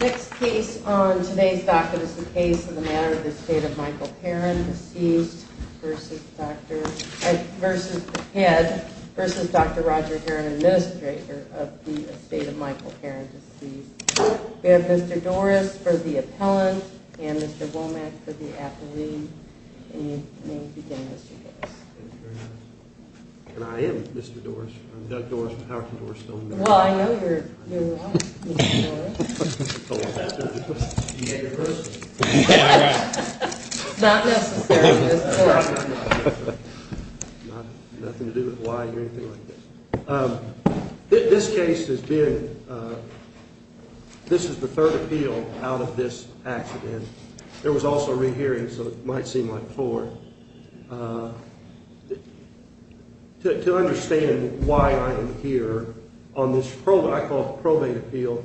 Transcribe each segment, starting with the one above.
Next case on today's docket is the case of The Matter of Estate of Michael Herrin, deceased, versus the head, versus Dr. Roger Herrin, administrator of The Estate of Michael Herrin, deceased. We have Mr. Dorris for the appellant and Mr. Womack for the appellee. And you may begin, Mr. Dorris. Thank you very much. And I am Mr. Dorris. I'm Doug Dorris from Howick and Dorris Stone. Well, I know you're a lawyer, Mr. Dorris. Not necessarily, Mr. Dorris. Nothing to do with the lawyer or anything like that. This case has been, this is the third appeal out of this accident. There was also a rehearing, so it might seem like four. To understand why I am here on this probate appeal,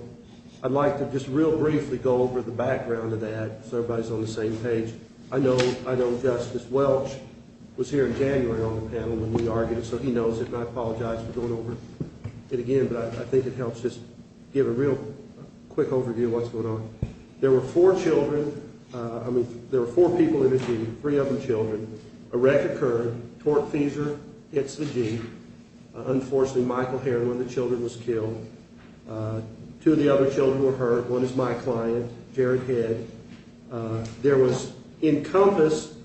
I'd like to just real briefly go over the background of that so everybody's on the same page. I know Justice Welch was here in January on the panel when we argued it, so he knows it. And I apologize for going over it again, but I think it helps just give a real quick overview of what's going on. There were four children, I mean, there were four people in a Jeep, three of them children. A wreck occurred, torque feeser hits the Jeep. Unfortunately, Michael Herrin, one of the children, was killed. Two of the other children were hurt. One is my client, Jared Head. There was, Encompass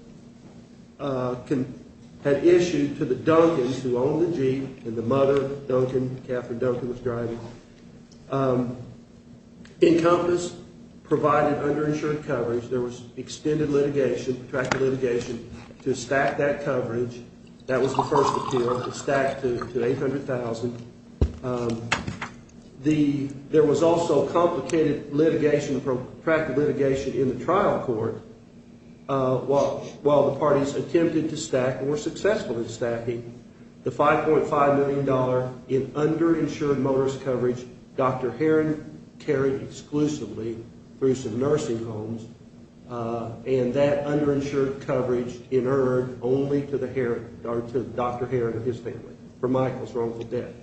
had issued to the Duncans who owned the Jeep and the mother, Duncan, Catherine Duncan, was driving. Encompass provided underinsured coverage. There was extended litigation, protracted litigation to stack that coverage. That was the first appeal. It stacked to 800,000. There was also complicated litigation, protracted litigation in the trial court. While the parties attempted to stack and were successful in stacking, the $5.5 million in underinsured motorist coverage, Dr. Herrin carried exclusively through some nursing homes. And that underinsured coverage in earned only to Dr. Herrin and his family for Michael's wrongful death.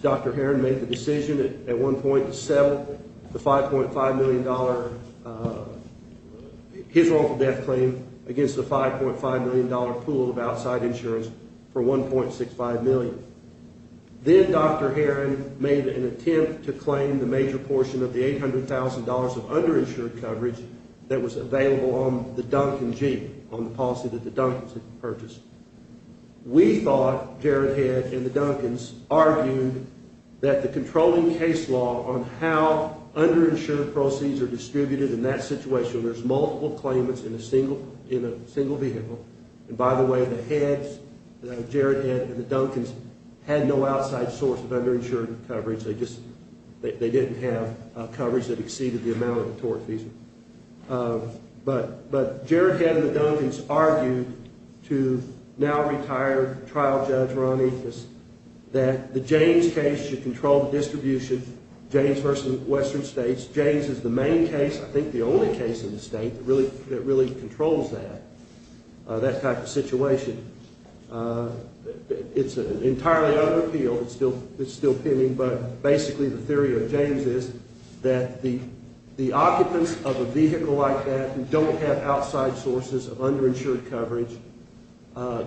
Dr. Herrin made the decision at one point to sell the $5.5 million, his wrongful death claim, against the $5.5 million pool of outside insurance for $1.65 million. Then Dr. Herrin made an attempt to claim the major portion of the $800,000 of underinsured coverage that was available on the Duncan Jeep, on the policy that the Duncans had purchased. We thought, Jared Head and the Duncans, argued that the controlling case law on how underinsured proceeds are distributed in that situation, there's multiple claimants in a single vehicle. And by the way, the Heads, Jared Head and the Duncans, had no outside source of underinsured coverage. They just, they didn't have coverage that exceeded the amount of the tort fees. But Jared Head and the Duncans argued to now retired trial judge Ron Ethis, that the James case should control the distribution, James versus Western States. James is the main case, I think the only case in the state, that really controls that. That type of situation. It's entirely unappealed, it's still pending, but basically the theory of James is, that the occupants of a vehicle like that, who don't have outside sources of underinsured coverage,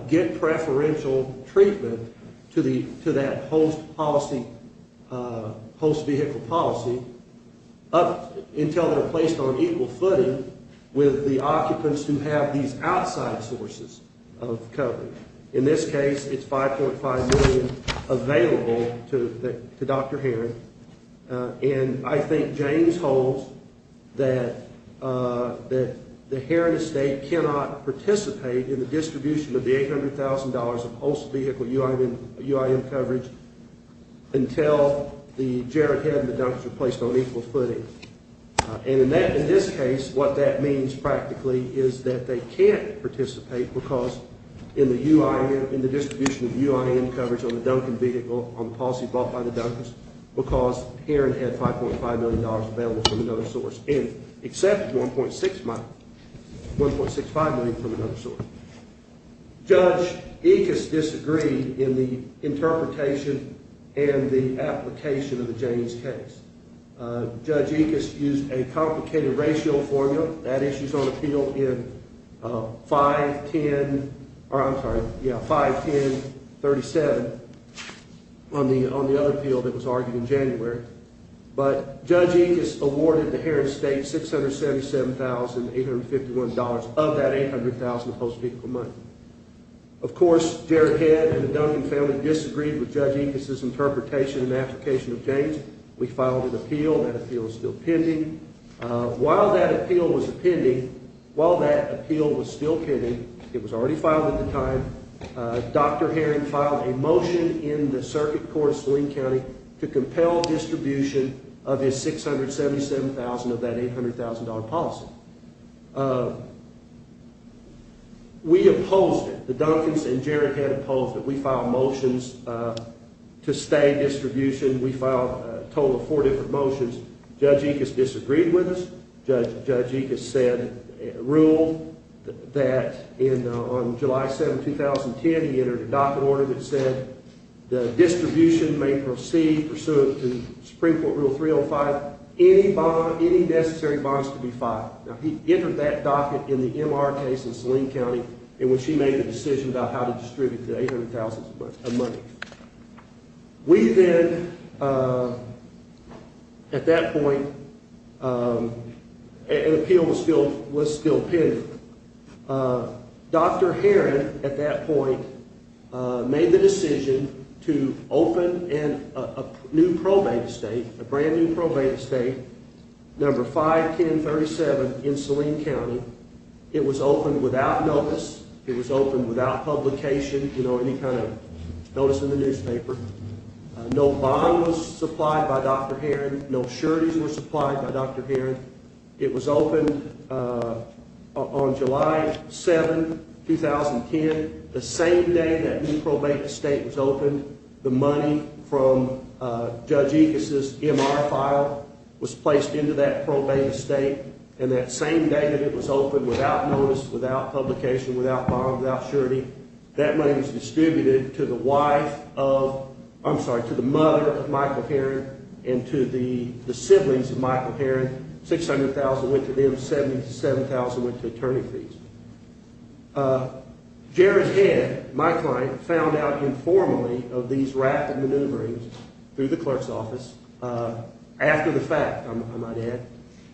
get preferential treatment to that host policy, host vehicle policy, until they're placed on equal footing with the occupants who have these outside sources of coverage. In this case, it's 5.5 million available to Dr. Heron. And I think James holds that the Heron estate cannot participate in the distribution of the $800,000 of host vehicle UIM coverage until the Jared Head and the Duncans are placed on equal footing. And in this case, what that means, practically, is that they can't participate because in the distribution of UIM coverage on the policy bought by the Duncans, because Heron had $5.5 million available from another source, except $1.65 million from another source. Judge Ickes disagreed in the interpretation and the application of the James case. Judge Ickes used a complicated ratio formula. That issue's on appeal in 5-10-37 on the other appeal that was argued in January. But Judge Ickes awarded the Heron estate $677,851 of that $800,000 of host vehicle money. Of course, Jared Head and the Duncan family disagreed with Judge Ickes' interpretation and application of James. We filed an appeal. That appeal is still pending. While that appeal was still pending, it was already filed at the time, Dr. Heron filed a motion in the circuit court of Saline County to compel distribution of his $677,000 of that $800,000 policy. We opposed it. The Duncans and Jared Head opposed it. We filed motions to stay in distribution. We filed a total of four different motions. Judge Ickes disagreed with us. Judge Ickes ruled that on July 7, 2010, he entered a docket order that said the distribution may proceed pursuant to Supreme Court Rule 305, any necessary bonds to be filed. He entered that docket in the MR case in Saline County in which he made the decision about how to distribute the $800,000 of money. We then, at that point, an appeal was still pending. Dr. Heron, at that point, made the decision to open a new probate estate, a brand new probate estate, number 51037 in Saline County. It was opened without notice. It was opened without publication, you know, any kind of notice in the newspaper. No bonds were supplied by Dr. Heron. No sureties were supplied by Dr. Heron. It was opened on July 7, 2010, the same day that new probate estate was opened. The money from Judge Ickes' MR file was placed into that probate estate, and that same day that it was opened, without notice, without publication, without bonds, without surety, that money was distributed to the wife of, I'm sorry, to the mother of Michael Heron and to the siblings of Michael Heron. $600,000 went to them. $70,000 to $7,000 went to attorney fees. Jared Head, my client, found out informally of these rapid maneuverings through the clerk's office after the fact, I might add.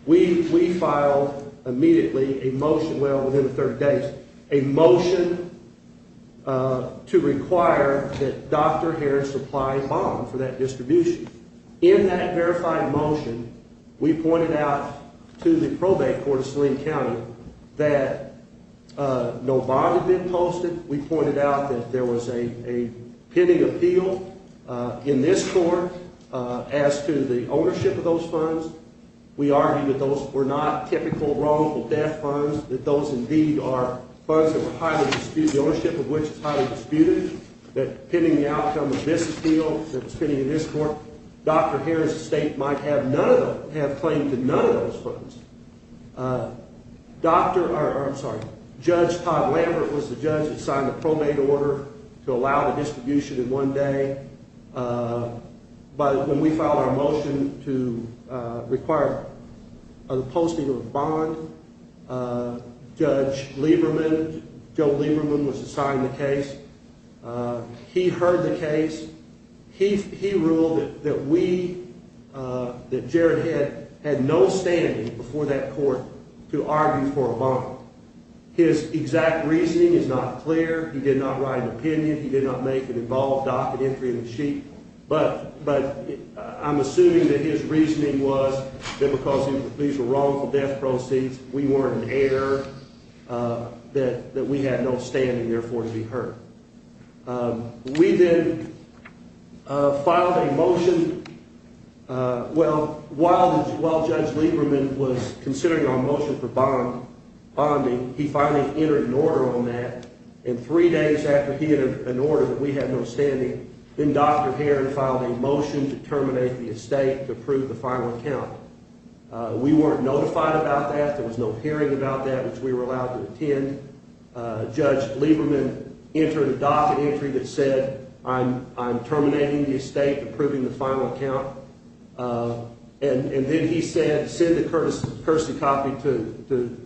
We filed immediately a motion, well, within 30 days, a motion to require that Dr. Heron supply a bond for that distribution. In that verified motion, we pointed out to the Probate Court of Saline County that no bond had been posted. We pointed out that there was a pending appeal in this court as to the ownership of those funds. We argued that those were not typical wrongful death funds, that those indeed are funds that were highly disputed, the ownership of which is highly disputed, that pending the outcome of this appeal that was pending in this court, Dr. Heron's estate might have claimed to none of those funds. Judge Todd Lambert was the judge that signed the probate order to allow the distribution in one day. But when we filed our motion to require the posting of a bond, Judge Lieberman, Joe Lieberman, was assigned the case. He heard the case. He ruled that we, that Jared Head, had no standing before that court to argue for a bond. His exact reasoning is not clear. He did not write an opinion. He did not make an involved docket entry in the sheet. But I'm assuming that his reasoning was that because these were wrongful death proceeds, we weren't an heir, that we had no standing therefore to be heard. We then filed a motion. Well, while Judge Lieberman was considering our motion for bonding, he finally entered an order on that. And three days after he had an order that we had no standing, then Dr. Heron filed a motion to terminate the estate to approve the final account. We weren't notified about that. There was no hearing about that, which we were allowed to attend. Judge Lieberman entered a docket entry that said, I'm terminating the estate, approving the final account. And then he said, send the courtesy copy to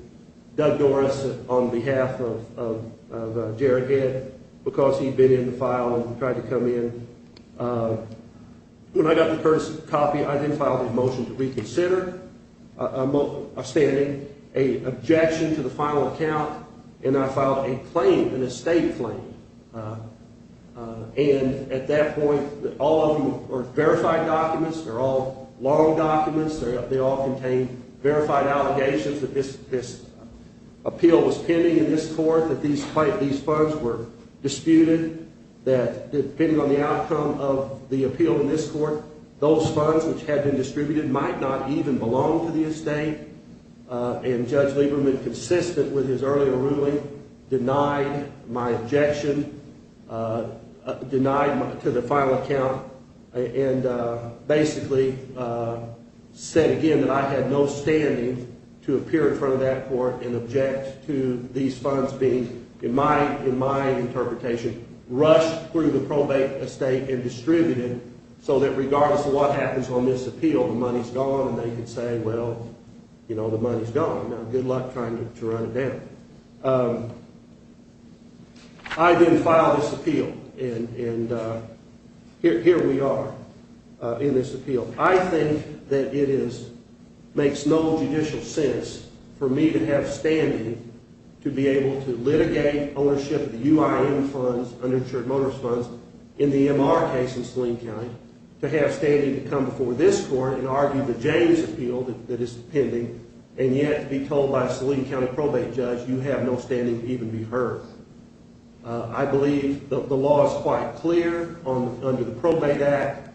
Doug Doris on behalf of Jared Head, because he'd been in the file and tried to come in. When I got the courtesy copy, I then filed a motion to reconsider our standing, a objection to the final account, and I filed a claim, an estate claim. And at that point, all of them are verified documents. They're all long documents. They all contain verified allegations that this appeal was pending in this court, that these funds were disputed, that depending on the outcome of the appeal in this court, those funds which had been distributed might not even belong to the estate. And Judge Lieberman, consistent with his earlier ruling, denied my objection, denied to the final account, and basically said again that I had no standing to appear in front of that court and object to these funds being, in my interpretation, rushed through the probate estate and distributed so that regardless of what happens on this appeal, the money's gone, and they could say, well, you know, the money's gone. Now, good luck trying to run it down. I then filed this appeal, and here we are in this appeal. I think that it makes no judicial sense for me to have standing to be able to litigate ownership of the UIM funds, uninsured motorist funds, in the MR case in Saline County, to have standing to come before this court and argue the James appeal that is pending, and yet be told by a Saline County probate judge you have no standing to even be heard. I believe the law is quite clear under the Probate Act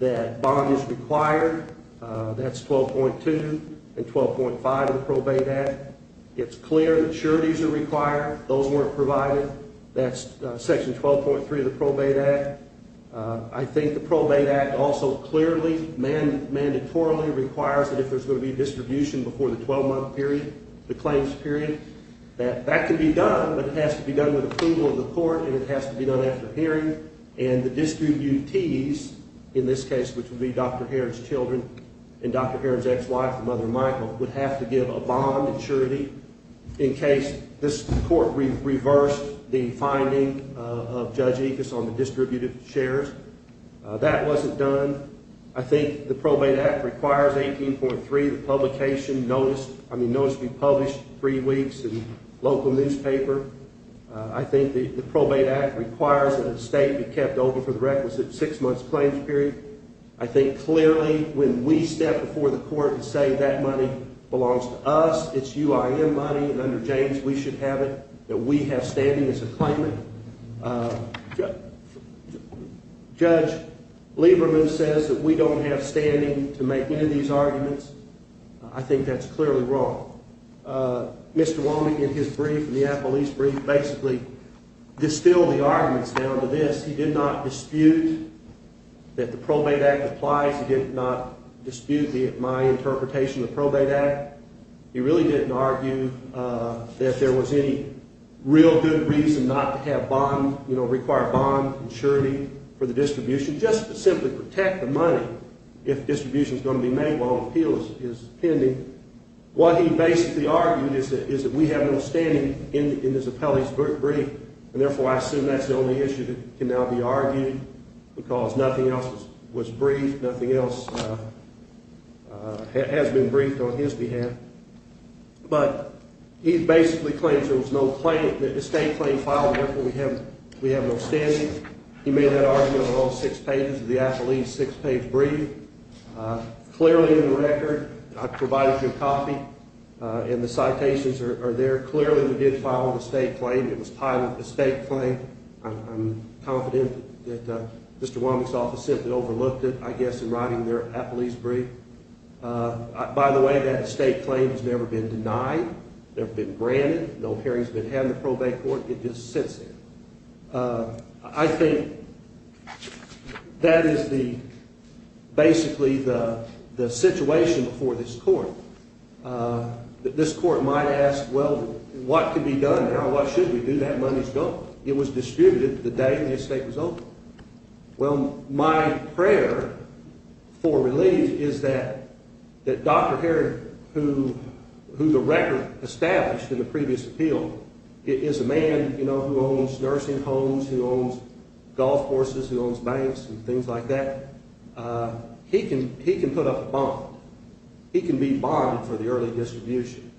that bond is required. That's 12.2 and 12.5 of the Probate Act. It's clear that sureties are required. Those weren't provided. That's Section 12.3 of the Probate Act. I think the Probate Act also clearly mandatorily requires that if there's going to be a distribution before the 12-month period, the claims period, that that can be done, but it has to be done with approval of the court, and it has to be done after hearing, and the distributees, in this case, which would be Dr. Heron's children and Dr. Heron's ex-wife and mother, Michael, would have to give a bond surety in case this court reversed the finding of Judge Ickes on the distributed shares. That wasn't done. I think the Probate Act requires 18.3, the publication, notice, I mean notice to be published three weeks in local newspaper. I think the Probate Act requires that a statement be kept open for the requisite six-month claims period. I think clearly when we step before the court and say that money belongs to us, it's UIM money, and under James we should have it, that we have standing as a claimant. Judge Lieberman says that we don't have standing to make any of these arguments. I think that's clearly wrong. Mr. Walden, in his brief, in the Apple East brief, basically distilled the arguments down to this. He did not dispute that the Probate Act applies. He did not dispute my interpretation of the Probate Act. He really didn't argue that there was any real good reason not to require a bond surety for the distribution just to simply protect the money if distribution is going to be made while an appeal is pending. What he basically argued is that we have no standing in this appellee's brief, and therefore I assume that's the only issue that can now be argued because nothing else was briefed, nothing else has been briefed on his behalf. But he basically claims there was no estate claim filed, and therefore we have no standing. He made that argument on all six pages of the Apple East six-page brief. Clearly in the record, I provided you a copy, and the citations are there. Clearly we did file an estate claim. It was a pilot estate claim. I'm confident that Mr. Womack's office simply overlooked it, I guess, in writing their Apple East brief. By the way, that estate claim has never been denied, never been granted. No hearings have been had in the probate court. It just sits there. I think that is basically the situation before this court. This court might ask, well, what can be done now? What should we do? That money is gone. It was distributed the day the estate was open. Well, my prayer for relief is that Dr. Herrod, who the record established in the previous appeal, is a man who owns nursing homes, who owns golf courses, who owns banks and things like that. He can put up a bond. He can be bonded for the early distribution.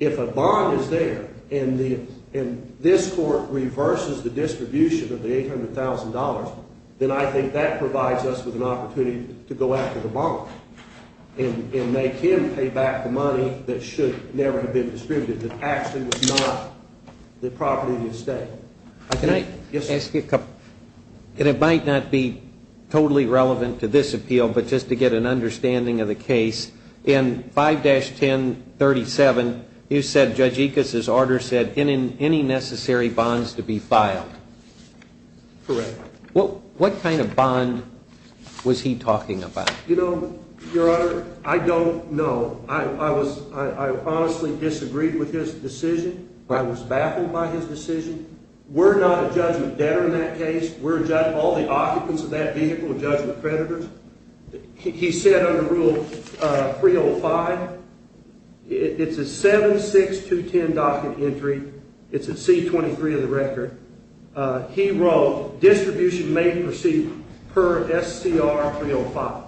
If a bond is there and this court reverses the distribution of the $800,000, then I think that provides us with an opportunity to go after the bond and make him pay back the money that should never have been distributed, that actually was not the property of the estate. Can I ask you a couple? And it might not be totally relevant to this appeal, but just to get an understanding of the case, in 5-1037, you said Judge Ickes's order said any necessary bonds to be filed. Correct. What kind of bond was he talking about? You know, Your Honor, I don't know. I honestly disagreed with his decision. I was baffled by his decision. We're not a judgment debtor in that case. We're all the occupants of that vehicle are judgment creditors. He said under Rule 305, it's a 7-6-2-10 docket entry. It's a C-23 of the record. He wrote distribution may proceed per SCR 305.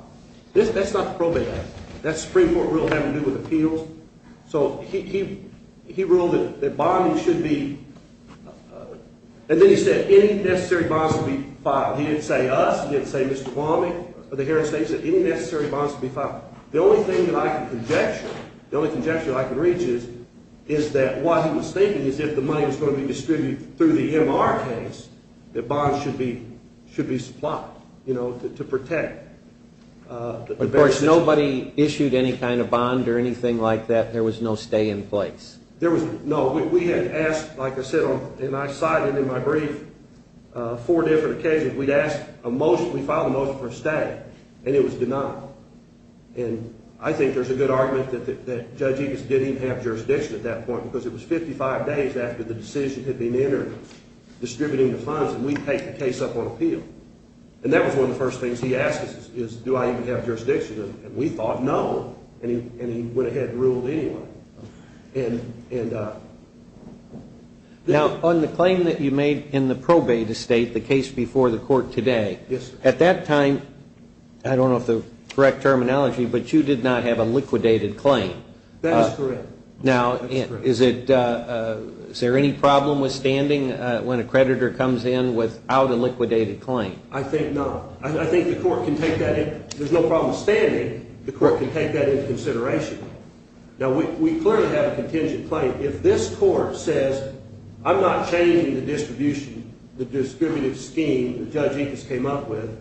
That's not the probate act. That's the Supreme Court rule having to do with appeals. So he ruled that bonds should be, and then he said any necessary bonds to be filed. He didn't say us. He didn't say Mr. Balmy or the Heron estate. He said any necessary bonds to be filed. The only thing that I can conjecture, the only conjecture I can reach is that what he was stating is if the money was going to be distributed through the MR case, that bonds should be supplied, you know, to protect. Of course, nobody issued any kind of bond or anything like that. There was no stay in place. There was no. We had asked, like I said, and I cited in my brief, four different occasions. We'd asked a motion. We filed a motion for a stay, and it was denied. And I think there's a good argument that Judge Ickes didn't even have jurisdiction at that point because it was 55 days after the decision had been entered, distributing the funds, and we'd take the case up on appeal. And that was one of the first things he asked us is, do I even have jurisdiction? And we thought no, and he went ahead and ruled anyway. Now, on the claim that you made in the probate estate, the case before the court today. Yes, sir. At that time, I don't know if the correct terminology, but you did not have a liquidated claim. That is correct. Now, is there any problem with standing when a creditor comes in without a liquidated claim? I think not. I think the court can take that in. There's no problem with standing. The court can take that into consideration. Now, we clearly have a contingent claim. If this court says, I'm not changing the distribution, the distributive scheme that Judge Ickes came up with,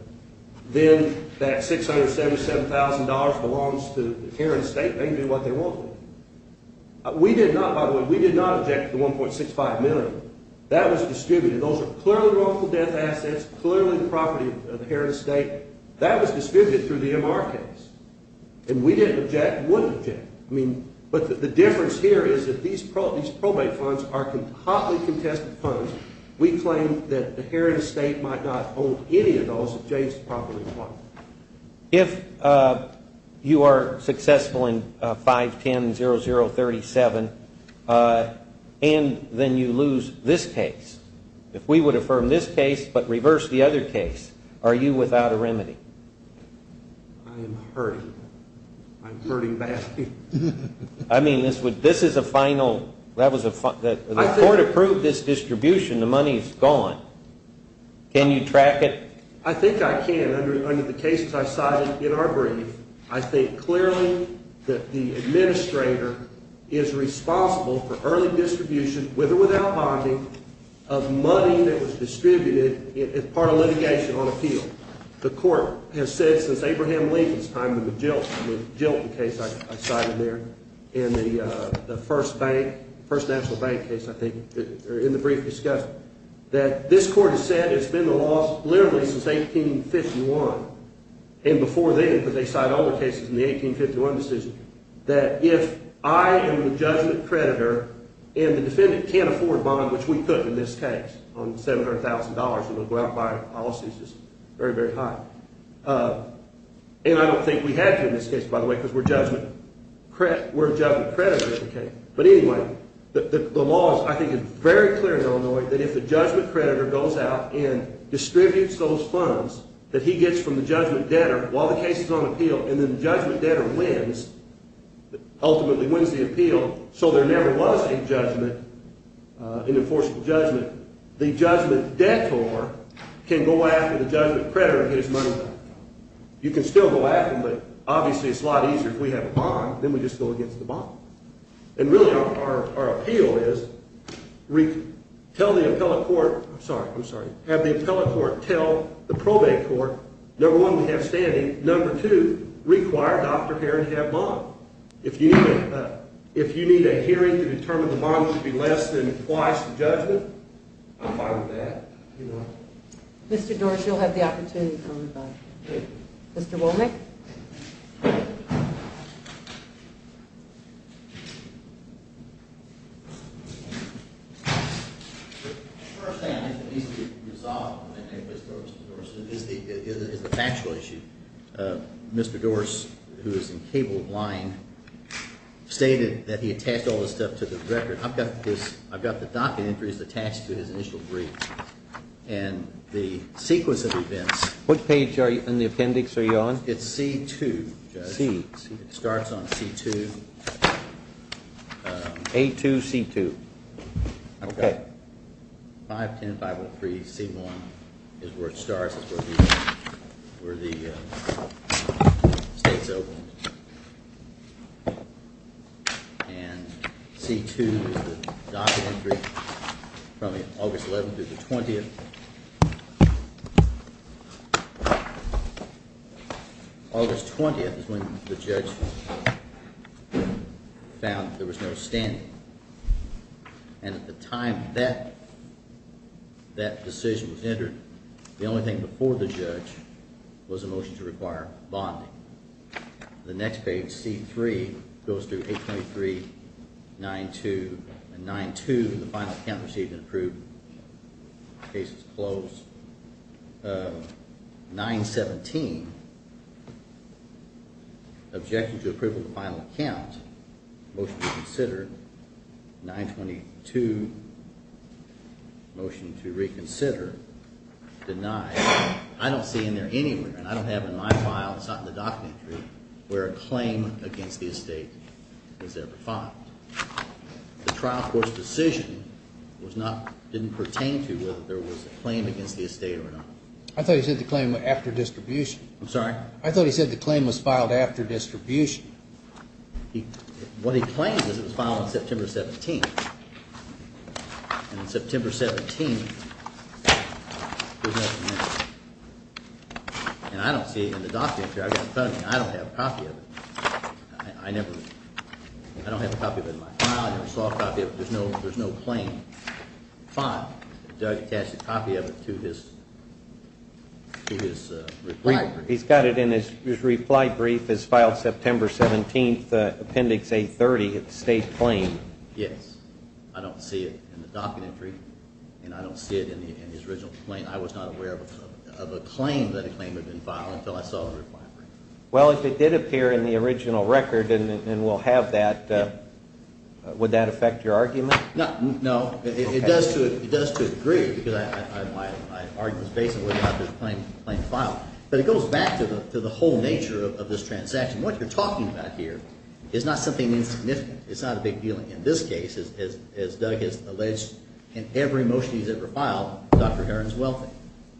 then that $677,000 belongs to the Heron Estate. They can do what they want with it. We did not, by the way, we did not object to the $1.65 million. That was distributed. Those are clearly wrongful death assets, clearly the property of the Heron Estate. That was distributed through the MR case, and we didn't object, wouldn't object. I mean, but the difference here is that these probate funds are hotly contested funds. We claim that the Heron Estate might not hold any of those adjacent property funds. If you are successful in 510-0037 and then you lose this case, if we would affirm this case but reverse the other case, are you without a remedy? I am hurting. I'm hurting badly. I mean, this is a final, the court approved this distribution. The money is gone. Can you track it? I think I can. Under the cases I cited in our brief, I think clearly that the administrator is responsible for early distribution, with or without bonding, of money that was distributed as part of litigation on appeal. The court has said since Abraham Lincoln's time in the Jilton case I cited there in the first bank, first national bank case, I think, in the brief discussion, that this court has said it's been the law literally since 1851, and before then, because they cite all the cases in the 1851 decision, that if I am the judgment creditor and the defendant can't afford bond, which we couldn't in this case, on $700,000, we would go out and buy policies that are very, very high. And I don't think we had to in this case, by the way, because we're a judgment creditor in this case. But anyway, the law, I think, is very clear in Illinois that if the judgment creditor goes out and distributes those funds that he gets from the judgment debtor while the case is on appeal and then the judgment debtor wins, ultimately wins the appeal, so there never was a judgment, an enforceable judgment, the judgment debtor can go after the judgment creditor and get his money back. You can still go after him, but obviously it's a lot easier if we have a bond, then we just go against the bond. And really our appeal is tell the appellate court, I'm sorry, I'm sorry, have the appellate court tell the probate court, number one, we have standing, and number two, require Dr. Heron to have a bond. If you need a hearing to determine the bond should be less than twice the judgment, I'm fine with that. Mr. Dorsey, you'll have the opportunity to comment. Mr. Womack? The first thing I need to resolve with Mr. Dorsey is the factual issue. Mr. Dorsey, who is in cable line, stated that he attached all this stuff to the record. I've got the docket entries attached to his initial brief and the sequence of events. What page in the appendix are you on? It's C2, Judge. It starts on C2. A2, C2. Okay. 510-503-C1 is where it starts. It's where the state's open. And C2 is the docket entry from August 11th through the 20th. August 20th is when the judge found there was no standing. And at the time that decision was entered, the only thing before the judge was a motion to require bonding. The next page, C3, goes through 823-92. And 9-2, the final account received and approved. Case is closed. 9-17. Objection to approval of the final account. Motion to reconsider. 9-22. Motion to reconsider. Denied. I don't see in there anywhere, and I don't have it in my file, it's not in the docket entry, where a claim against the estate was ever filed. The trial court's decision didn't pertain to whether there was a claim against the estate or not. I thought he said the claim was after distribution. I'm sorry? I thought he said the claim was filed after distribution. What he claims is it was filed on September 17th. And on September 17th, there's nothing there. And I don't see it in the docket entry. I've got it in front of me. I don't have a copy of it. I never, I don't have a copy of it in my file. I never saw a copy of it. There's no claim. Fine. Did Doug attach a copy of it to his reply brief? He's got it in his reply brief. It's filed September 17th, Appendix A-30. It's a state claim. Yes. I don't see it in the docket entry, and I don't see it in his original claim. I was not aware of a claim that a claim had been filed until I saw the reply brief. Well, if it did appear in the original record and we'll have that, would that affect your argument? No. It does to a degree because my argument is based on whether or not there's a claim to file. But it goes back to the whole nature of this transaction. What you're talking about here is not something insignificant. It's not a big deal. In this case, as Doug has alleged in every motion he's ever filed, Dr. Heron's wealthy.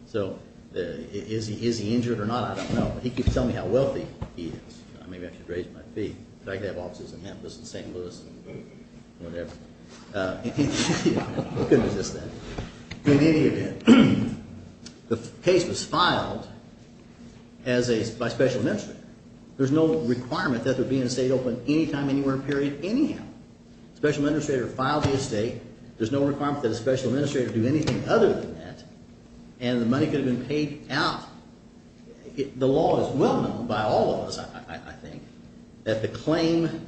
So is he injured or not, I don't know. He keeps telling me how wealthy he is. Maybe I should raise my feet. I could have offices in Memphis and St. Louis and whatever. It could be just that. In any event, the case was filed by special administrator. There's no requirement that there be an estate open anytime, anywhere, period, anyhow. Special administrator filed the estate. There's no requirement that a special administrator do anything other than that. And the money could have been paid out. The law is well known by all of us, I think, that the claim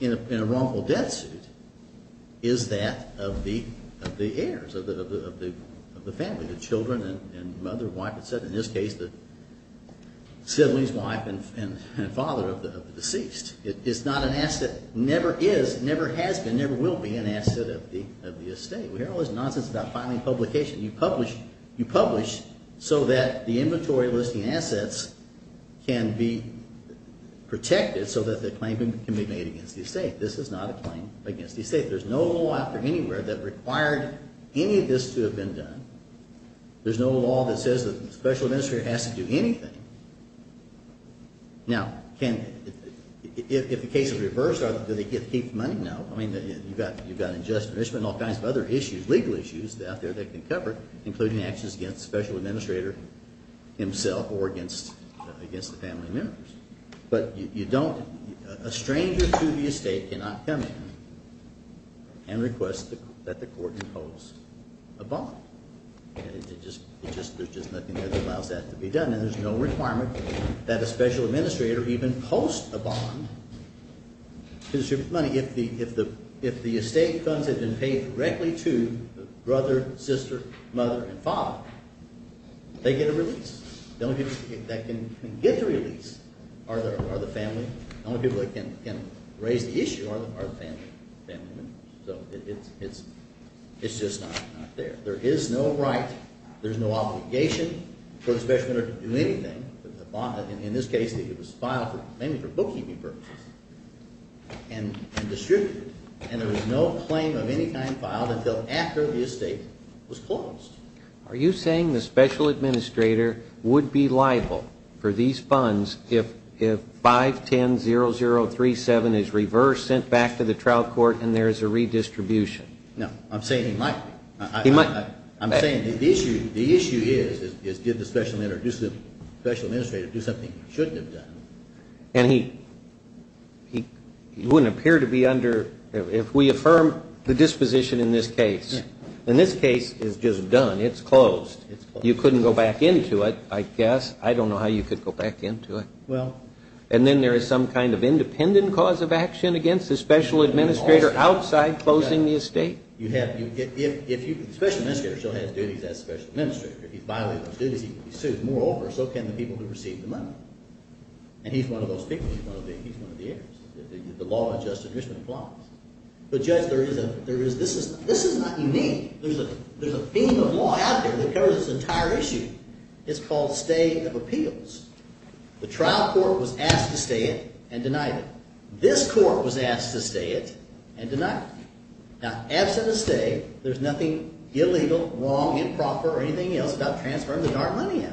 in a wrongful death suit is that of the heirs, of the family, the children and mother, wife, et cetera. In this case, the sibling's wife and father of the deceased. It's not an asset. Never is, never has been, never will be an asset of the estate. We hear all this nonsense about filing publication. You publish so that the inventory listing assets can be protected so that the claim can be made against the estate. This is not a claim against the estate. There's no law out there anywhere that required any of this to have been done. There's no law that says that the special administrator has to do anything. Now, if the case is reversed, do they keep the money? No. You've got unjust punishment and all kinds of other issues, legal issues out there that can cover it, including actions against the special administrator himself or against the family members. But a stranger to the estate cannot come in and request that the court impose a bond. There's just nothing that allows that to be done. And there's no requirement that a special administrator even post a bond to distribute money if the estate funds have been paid directly to the brother, sister, mother, and father. They get a release. The only people that can get the release are the family. The only people that can raise the issue are the family members. So it's just not there. There is no right, there's no obligation for the special administrator to do anything. In this case, it was filed mainly for bookkeeping purposes. And distributed. And there was no claim of any kind filed until after the estate was closed. Are you saying the special administrator would be liable for these funds if 510037 is reversed, sent back to the trial court, and there is a redistribution? No. I'm saying he might be. I'm saying the issue is, did the special administrator do something he shouldn't have done? And he wouldn't appear to be under, if we affirm the disposition in this case, and this case is just done, it's closed. You couldn't go back into it, I guess. I don't know how you could go back into it. Well. And then there is some kind of independent cause of action against the special administrator outside closing the estate. The special administrator still has duties as special administrator. If he's violating those duties, he will be sued. Moreover, so can the people who receive the money. And he's one of those people. He's one of the heirs. The law adjusts and Richmond applies. But judge, this is not unique. There's a theme of law out there that covers this entire issue. It's called stay of appeals. The trial court was asked to stay it and denied it. This court was asked to stay it and denied it. Now, absent a stay, there's nothing illegal, wrong, improper, or anything else about transferring the darn money out.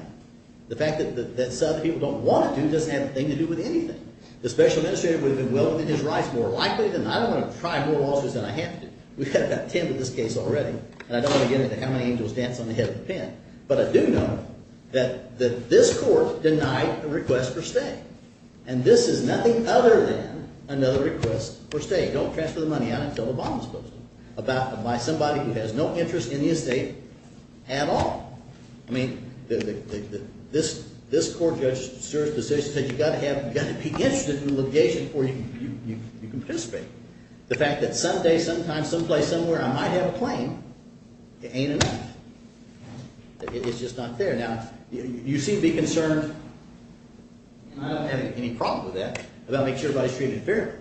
The fact that some people don't want to do doesn't have anything to do with anything. The special administrator would have been willing to do his rights more likely than not. I don't want to try more lawsuits than I have to do. We've had about 10 in this case already. And I don't want to get into how many angels dance on the head of the pen. But I do know that this court denied a request for stay. And this is nothing other than another request for stay. Don't transfer the money out until Obama's supposed to. By somebody who has no interest in the estate at all. I mean, this court judge's serious decision said you've got to be interested in litigation before you can participate. The fact that someday, sometime, someplace, somewhere I might have a claim, it ain't enough. It's just not there. Now, you seem to be concerned, and I don't have any problem with that, about making sure everybody's treated fairly.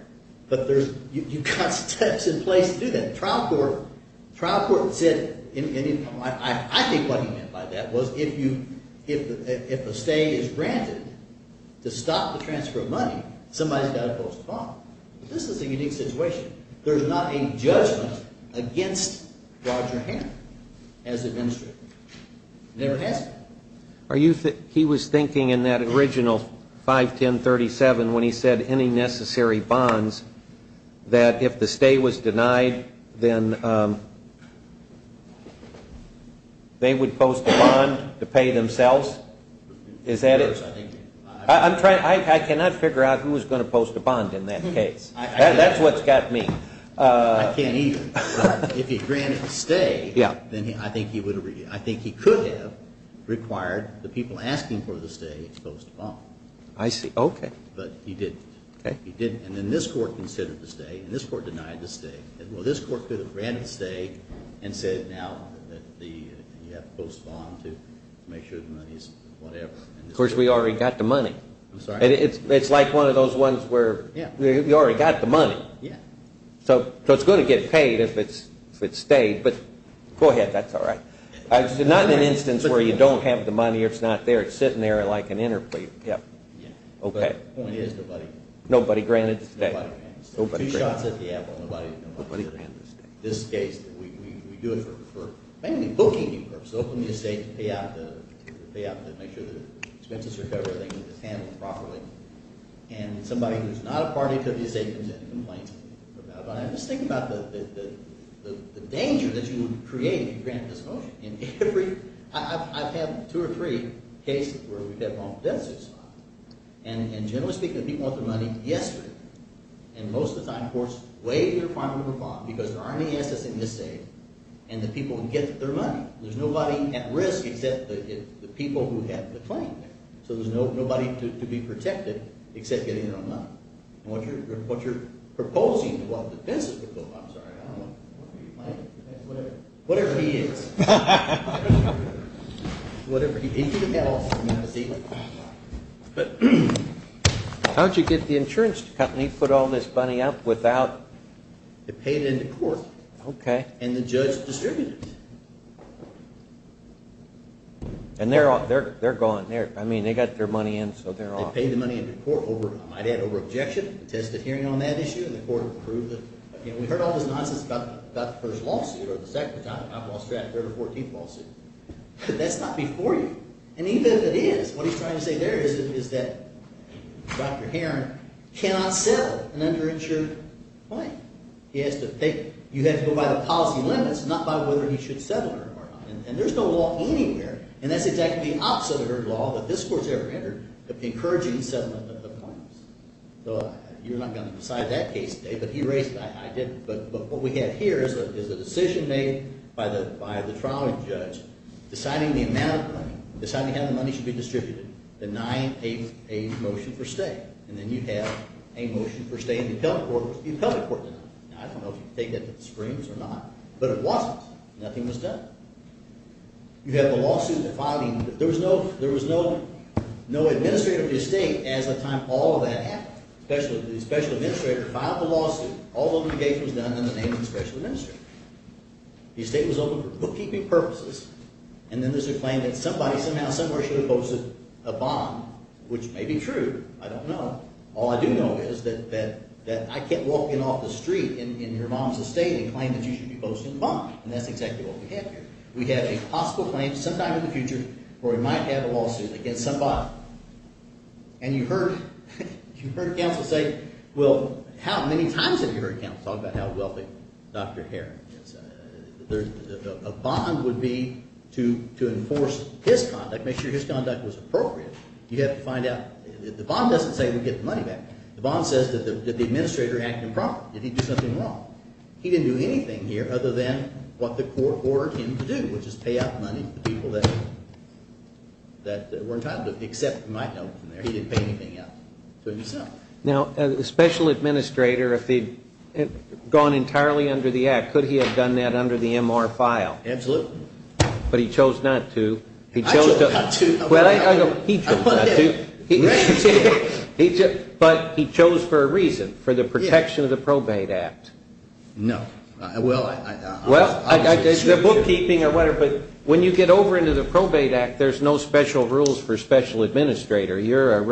But you've got steps in place to do that. Trial court said, I think what he meant by that was if a stay is granted to stop the transfer of money, somebody's got to pose a problem. This is a unique situation. There's not a judgment against Roger Hamm as administrator. Never has been. He was thinking in that original 51037 when he said any necessary bonds, that if the stay was denied, then they would post a bond to pay themselves? Is that it? I cannot figure out who was going to post a bond in that case. That's what's got me. I can't either. If he granted the stay, then I think he could have required the people asking for the stay to post a bond. I see. Okay. But he didn't. He didn't. And then this court considered the stay, and this court denied the stay. Well, this court could have granted the stay and said now that you have to post a bond to make sure the money's whatever. Of course, we already got the money. It's like one of those ones where you already got the money. Yeah. So it's going to get paid if it's stayed, but go ahead. That's all right. It's not an instance where you don't have the money or it's not there. It's sitting there like an interplay. Yeah. Okay. Nobody granted the stay. Nobody granted the stay. Two shots at the apple. Nobody granted the stay. Nobody granted the stay. In this case, we do it for mainly booking purposes. Open the estate to pay out to make sure the expenses are covered and handled properly. And somebody who's not a party to the estate comes in and complains to me about it. But I'm just thinking about the danger that you would create if you granted this motion. And every – I've had two or three cases where we've had wrongful death suits filed. And generally speaking, the people want their money yesterday. And most of the time, courts waive their final number of bonds because there aren't any assets in the estate, and the people get their money. There's nobody at risk except the people who have the claim there. So there's nobody to be protected except getting their own money. And what you're proposing, well, the defense would go, I'm sorry, I don't know. What are you planning? Whatever. Whatever he is. Whatever he is. He could have had all the money in the estate. But how did you get the insurance company to put all this money up without – They paid into court. Okay. And the judge distributed it. And they're gone. I mean they got their money in, so they're off. They paid the money into court. I might add over-objection. Tested hearing on that issue, and the court approved it. We heard all this nonsense about the first lawsuit or the second time. I've lost track of the third or fourteenth lawsuit. That's not before you. And even if it is, what he's trying to say there is that Dr. Heron cannot settle an underinsured claim. He has to pay – you have to go by the policy limits, not by whether he should settle or not. And there's no law anywhere. And that's exactly the opposite of her law that this court's ever entered of encouraging settlement of claims. So you're not going to decide that case today, but he raised – I didn't. But what we have here is a decision made by the trial judge deciding the amount of money, deciding how the money should be distributed, denying a motion for stay. And then you have a motion for stay in the appellate court, which the appellate court denied. Now I don't know if you can take that to the screens or not, but it wasn't. Nothing was done. You have the lawsuit filing. There was no administrator of the estate as of the time all of that happened. The special administrator filed the lawsuit. All litigation was done under the name of the special administrator. The estate was open for bookkeeping purposes. And then there's a claim that somebody, somehow, somewhere should have posted a bond, which may be true. I don't know. All I do know is that I kept walking off the street in your mom's estate and claimed that you should be posting a bond. And that's exactly what we have here. We have a possible claim sometime in the future where we might have a lawsuit against somebody. And you heard counsel say, well, how many times have you heard counsel talk about how wealthy Dr. Herring is? A bond would be to enforce his conduct, make sure his conduct was appropriate. You have to find out. The bond doesn't say we get the money back. The bond says that the administrator acted improperly. Did he do something wrong? He didn't do anything here other than what the court ordered him to do, which is pay out money to the people that were entitled to it. Except, you might know from there, he didn't pay anything out to himself. Now, the special administrator, if he'd gone entirely under the Act, could he have done that under the MR file? Absolutely. But he chose not to. I chose not to. Well, he chose not to. But he chose for a reason, for the protection of the Probate Act. No. Well, it's the bookkeeping or whatever, but when you get over into the Probate Act, there's no special rules for special administrator. You're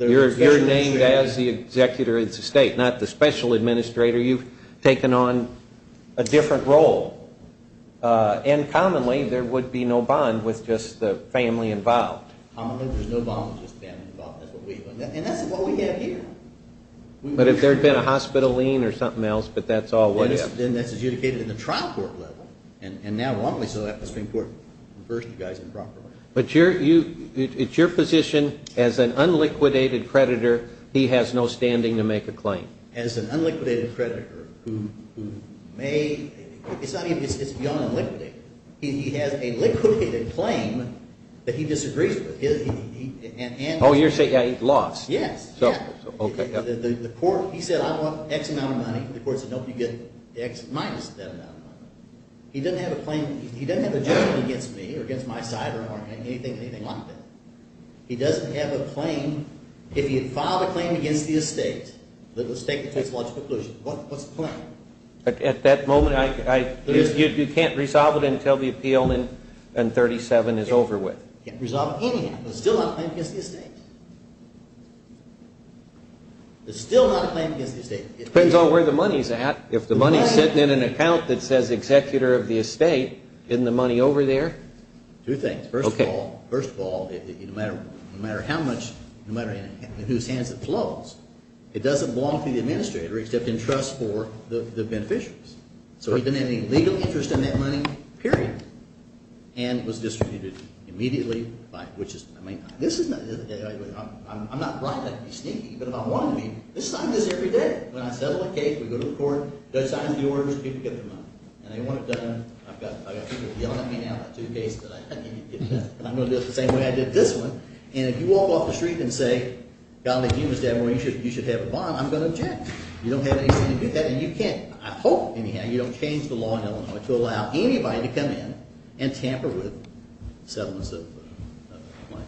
named as the executor of the state, not the special administrator. You've taken on a different role. And commonly, there would be no bond with just the family involved. Commonly, there's no bond with just the family involved. And that's what we have here. But if there had been a hospital lien or something else, but that's all we have. Then that's adjudicated in the trial court level. And now, wantonly, so that the Supreme Court refers to you guys improperly. But it's your position, as an unliquidated creditor, he has no standing to make a claim. As an unliquidated creditor, who may, it's beyond unliquidated. He has a liquidated claim that he disagrees with. Oh, you're saying he lost. Yes. Okay. The court, he said, I want X amount of money. The court said, nope, you get X minus that amount of money. He doesn't have a claim, he doesn't have a judgment against me or against my side or anything like that. He doesn't have a claim. If he had filed a claim against the estate, that the estate would face a large preclusion, what's the claim? At that moment, you can't resolve it until the appeal in 37 is over with. You can't resolve it anyhow. There's still not a claim against the estate. There's still not a claim against the estate. It depends on where the money's at. If the money's sitting in an account that says executor of the estate, isn't the money over there? Two things. First of all, no matter how much, no matter in whose hands it flows, it doesn't belong to the administrator except in trust for the beneficiaries. So he didn't have any legal interest in that money, period, and it was distributed immediately, which is – I mean, this is not – I'm not right. I could be sneaky, but if I wanted to be, this is how it is every day. When I settle a case, we go to the court, judge signs the orders, people get their money. And they want it done. I've got people yelling at me now about two cases that I can't get done. I'm going to do it the same way I did this one. And if you walk off the street and say, golly, you, Mr. Abner, you should have a bond, I'm going to object. You don't have anything to do with that and you can't. I hope, anyhow, you don't change the law in Illinois to allow anybody to come in and tamper with settlements of claims.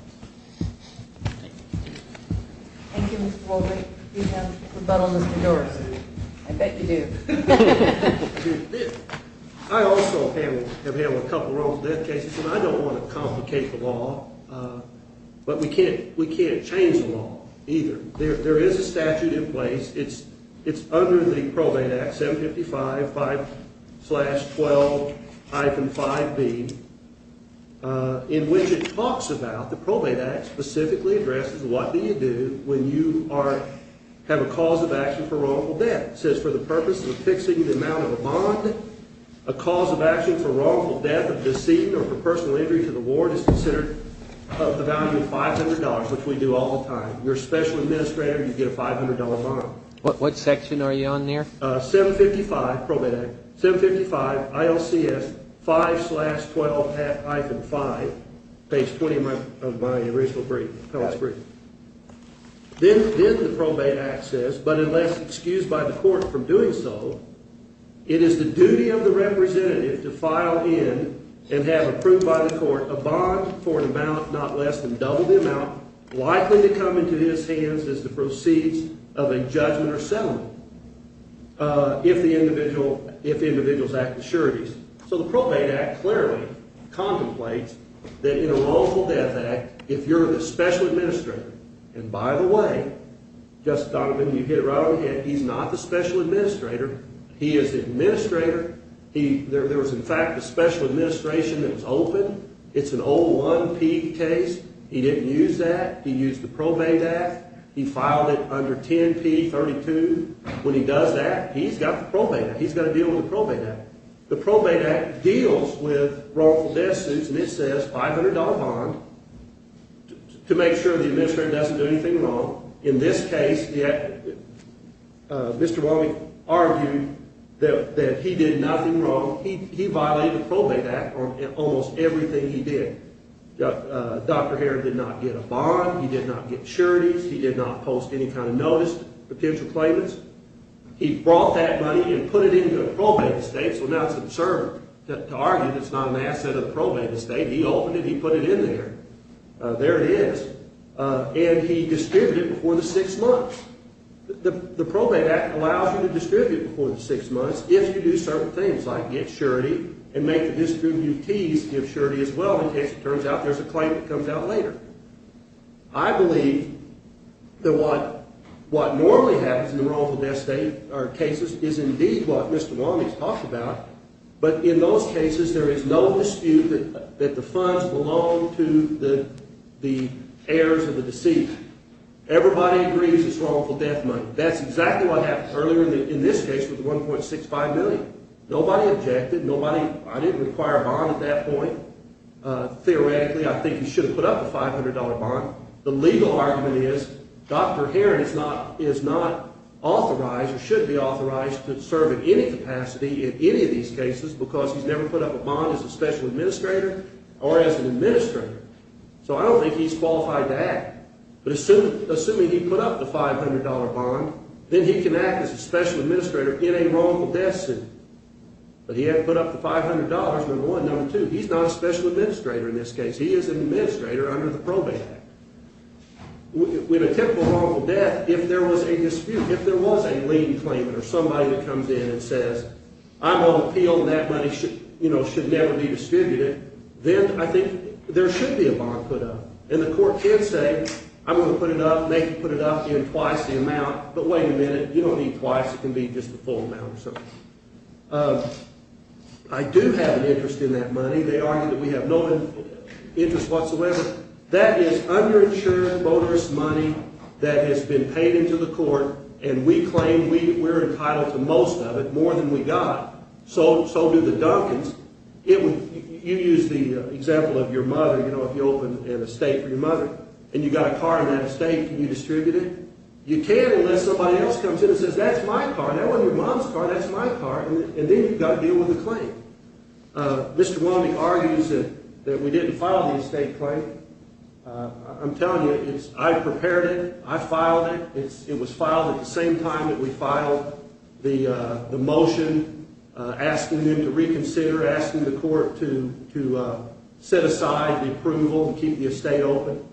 Thank you. Thank you, Mr. Wolbein. We have rebuttal, Mr. Dorsey. I bet you do. I also have had a couple of wrongful death cases, and I don't want to complicate the law, but we can't change the law either. There is a statute in place. It's under the Probate Act, 755-512-5B, in which it talks about the Probate Act specifically addresses what do you do when you have a cause of action for wrongful death. It says for the purpose of fixing the amount of a bond, a cause of action for wrongful death of deceit or for personal injury to the ward is considered of the value of $500, which we do all the time. You're a special administrator. You get a $500 bond. What section are you on there? 755, Probate Act. 755, ILCS, 5-12-5, page 20 of my original brief, past brief. Then the Probate Act says, but unless excused by the court from doing so, it is the duty of the representative to file in and have approved by the court a bond for an amount not less than double the amount likely to come into his hands as the proceeds of a judgment or settlement if the individual's act assurities. So the Probate Act clearly contemplates that in a wrongful death act, if you're the special administrator, and by the way, Justice Donovan, you hit it right on the head. He's not the special administrator. He is the administrator. There was, in fact, a special administration that was open. It's an old 1P case. He didn't use that. He used the Probate Act. He filed it under 10P32. When he does that, he's got the Probate Act. He's got to deal with the Probate Act. The Probate Act deals with wrongful death suits, and it says $500 bond to make sure the administrator doesn't do anything wrong. In this case, Mr. Wiley argued that he did nothing wrong. He violated the Probate Act on almost everything he did. Dr. Heron did not get a bond. He did not get assurities. He did not post any kind of notice, potential claimants. He brought that money and put it into a probate estate, so now it's absurd to argue that it's not an asset of the probate estate. He opened it. He put it in there. There it is, and he distributed it before the six months. The Probate Act allows you to distribute it before the six months if you do certain things like get surety and make the distributees give surety as well, in case it turns out there's a claim that comes out later. I believe that what normally happens in the wrongful death cases is indeed what Mr. Wiley has talked about, but in those cases, there is no dispute that the funds belong to the heirs of the deceit. Everybody agrees it's wrongful death money. That's exactly what happened earlier in this case with the $1.65 million. Nobody objected. I didn't require a bond at that point. Theoretically, I think he should have put up a $500 bond. The legal argument is Dr. Heron is not authorized or should be authorized to serve in any capacity in any of these cases because he's never put up a bond as a special administrator or as an administrator, so I don't think he's qualified to act, but assuming he put up the $500 bond, then he can act as a special administrator in a wrongful death suit, but he hadn't put up the $500, number one. Number two, he's not a special administrator in this case. He is an administrator under the Probate Act. With a typical wrongful death, if there was a dispute, if there was a lien claimant or somebody that comes in and says, I'm on appeal and that money should never be distributed, then I think there should be a bond put up, and the court can say, I'm going to put it up, make you put it up, give you twice the amount, but wait a minute, you don't need twice. It can be just the full amount or something. I do have an interest in that money. They argue that we have no interest whatsoever. That is underinsured, bonerous money that has been paid into the court, and we claim we're entitled to most of it, more than we got. So do the Dunkins. You use the example of your mother. If you open an estate for your mother and you've got a car in that estate, can you distribute it? You can unless somebody else comes in and says, that's my car. That wasn't your mom's car. That's my car. And then you've got to deal with the claim. Mr. Walmy argues that we didn't file the estate claim. I'm telling you, I prepared it. I filed it. It was filed at the same time that we filed the motion asking them to reconsider, asking the court to set aside the approval and keep the estate open.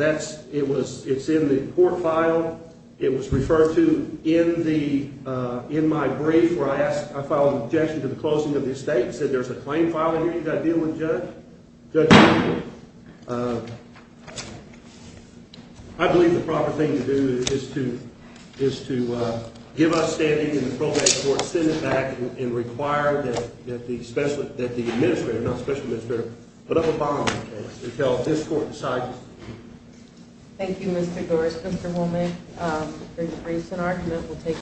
It's in the court file. It was referred to in my brief where I filed an objection to the closing of the estate and said there's a claim file in here you've got to deal with, Judge. Judge, I believe the proper thing to do is to give us standing in the program court, send it back, and require that the administrator, not the special administrator, put up a bond case until this court decides to keep it. Thank you, Mr. Gores. Mr. Holman, for your briefs and argument.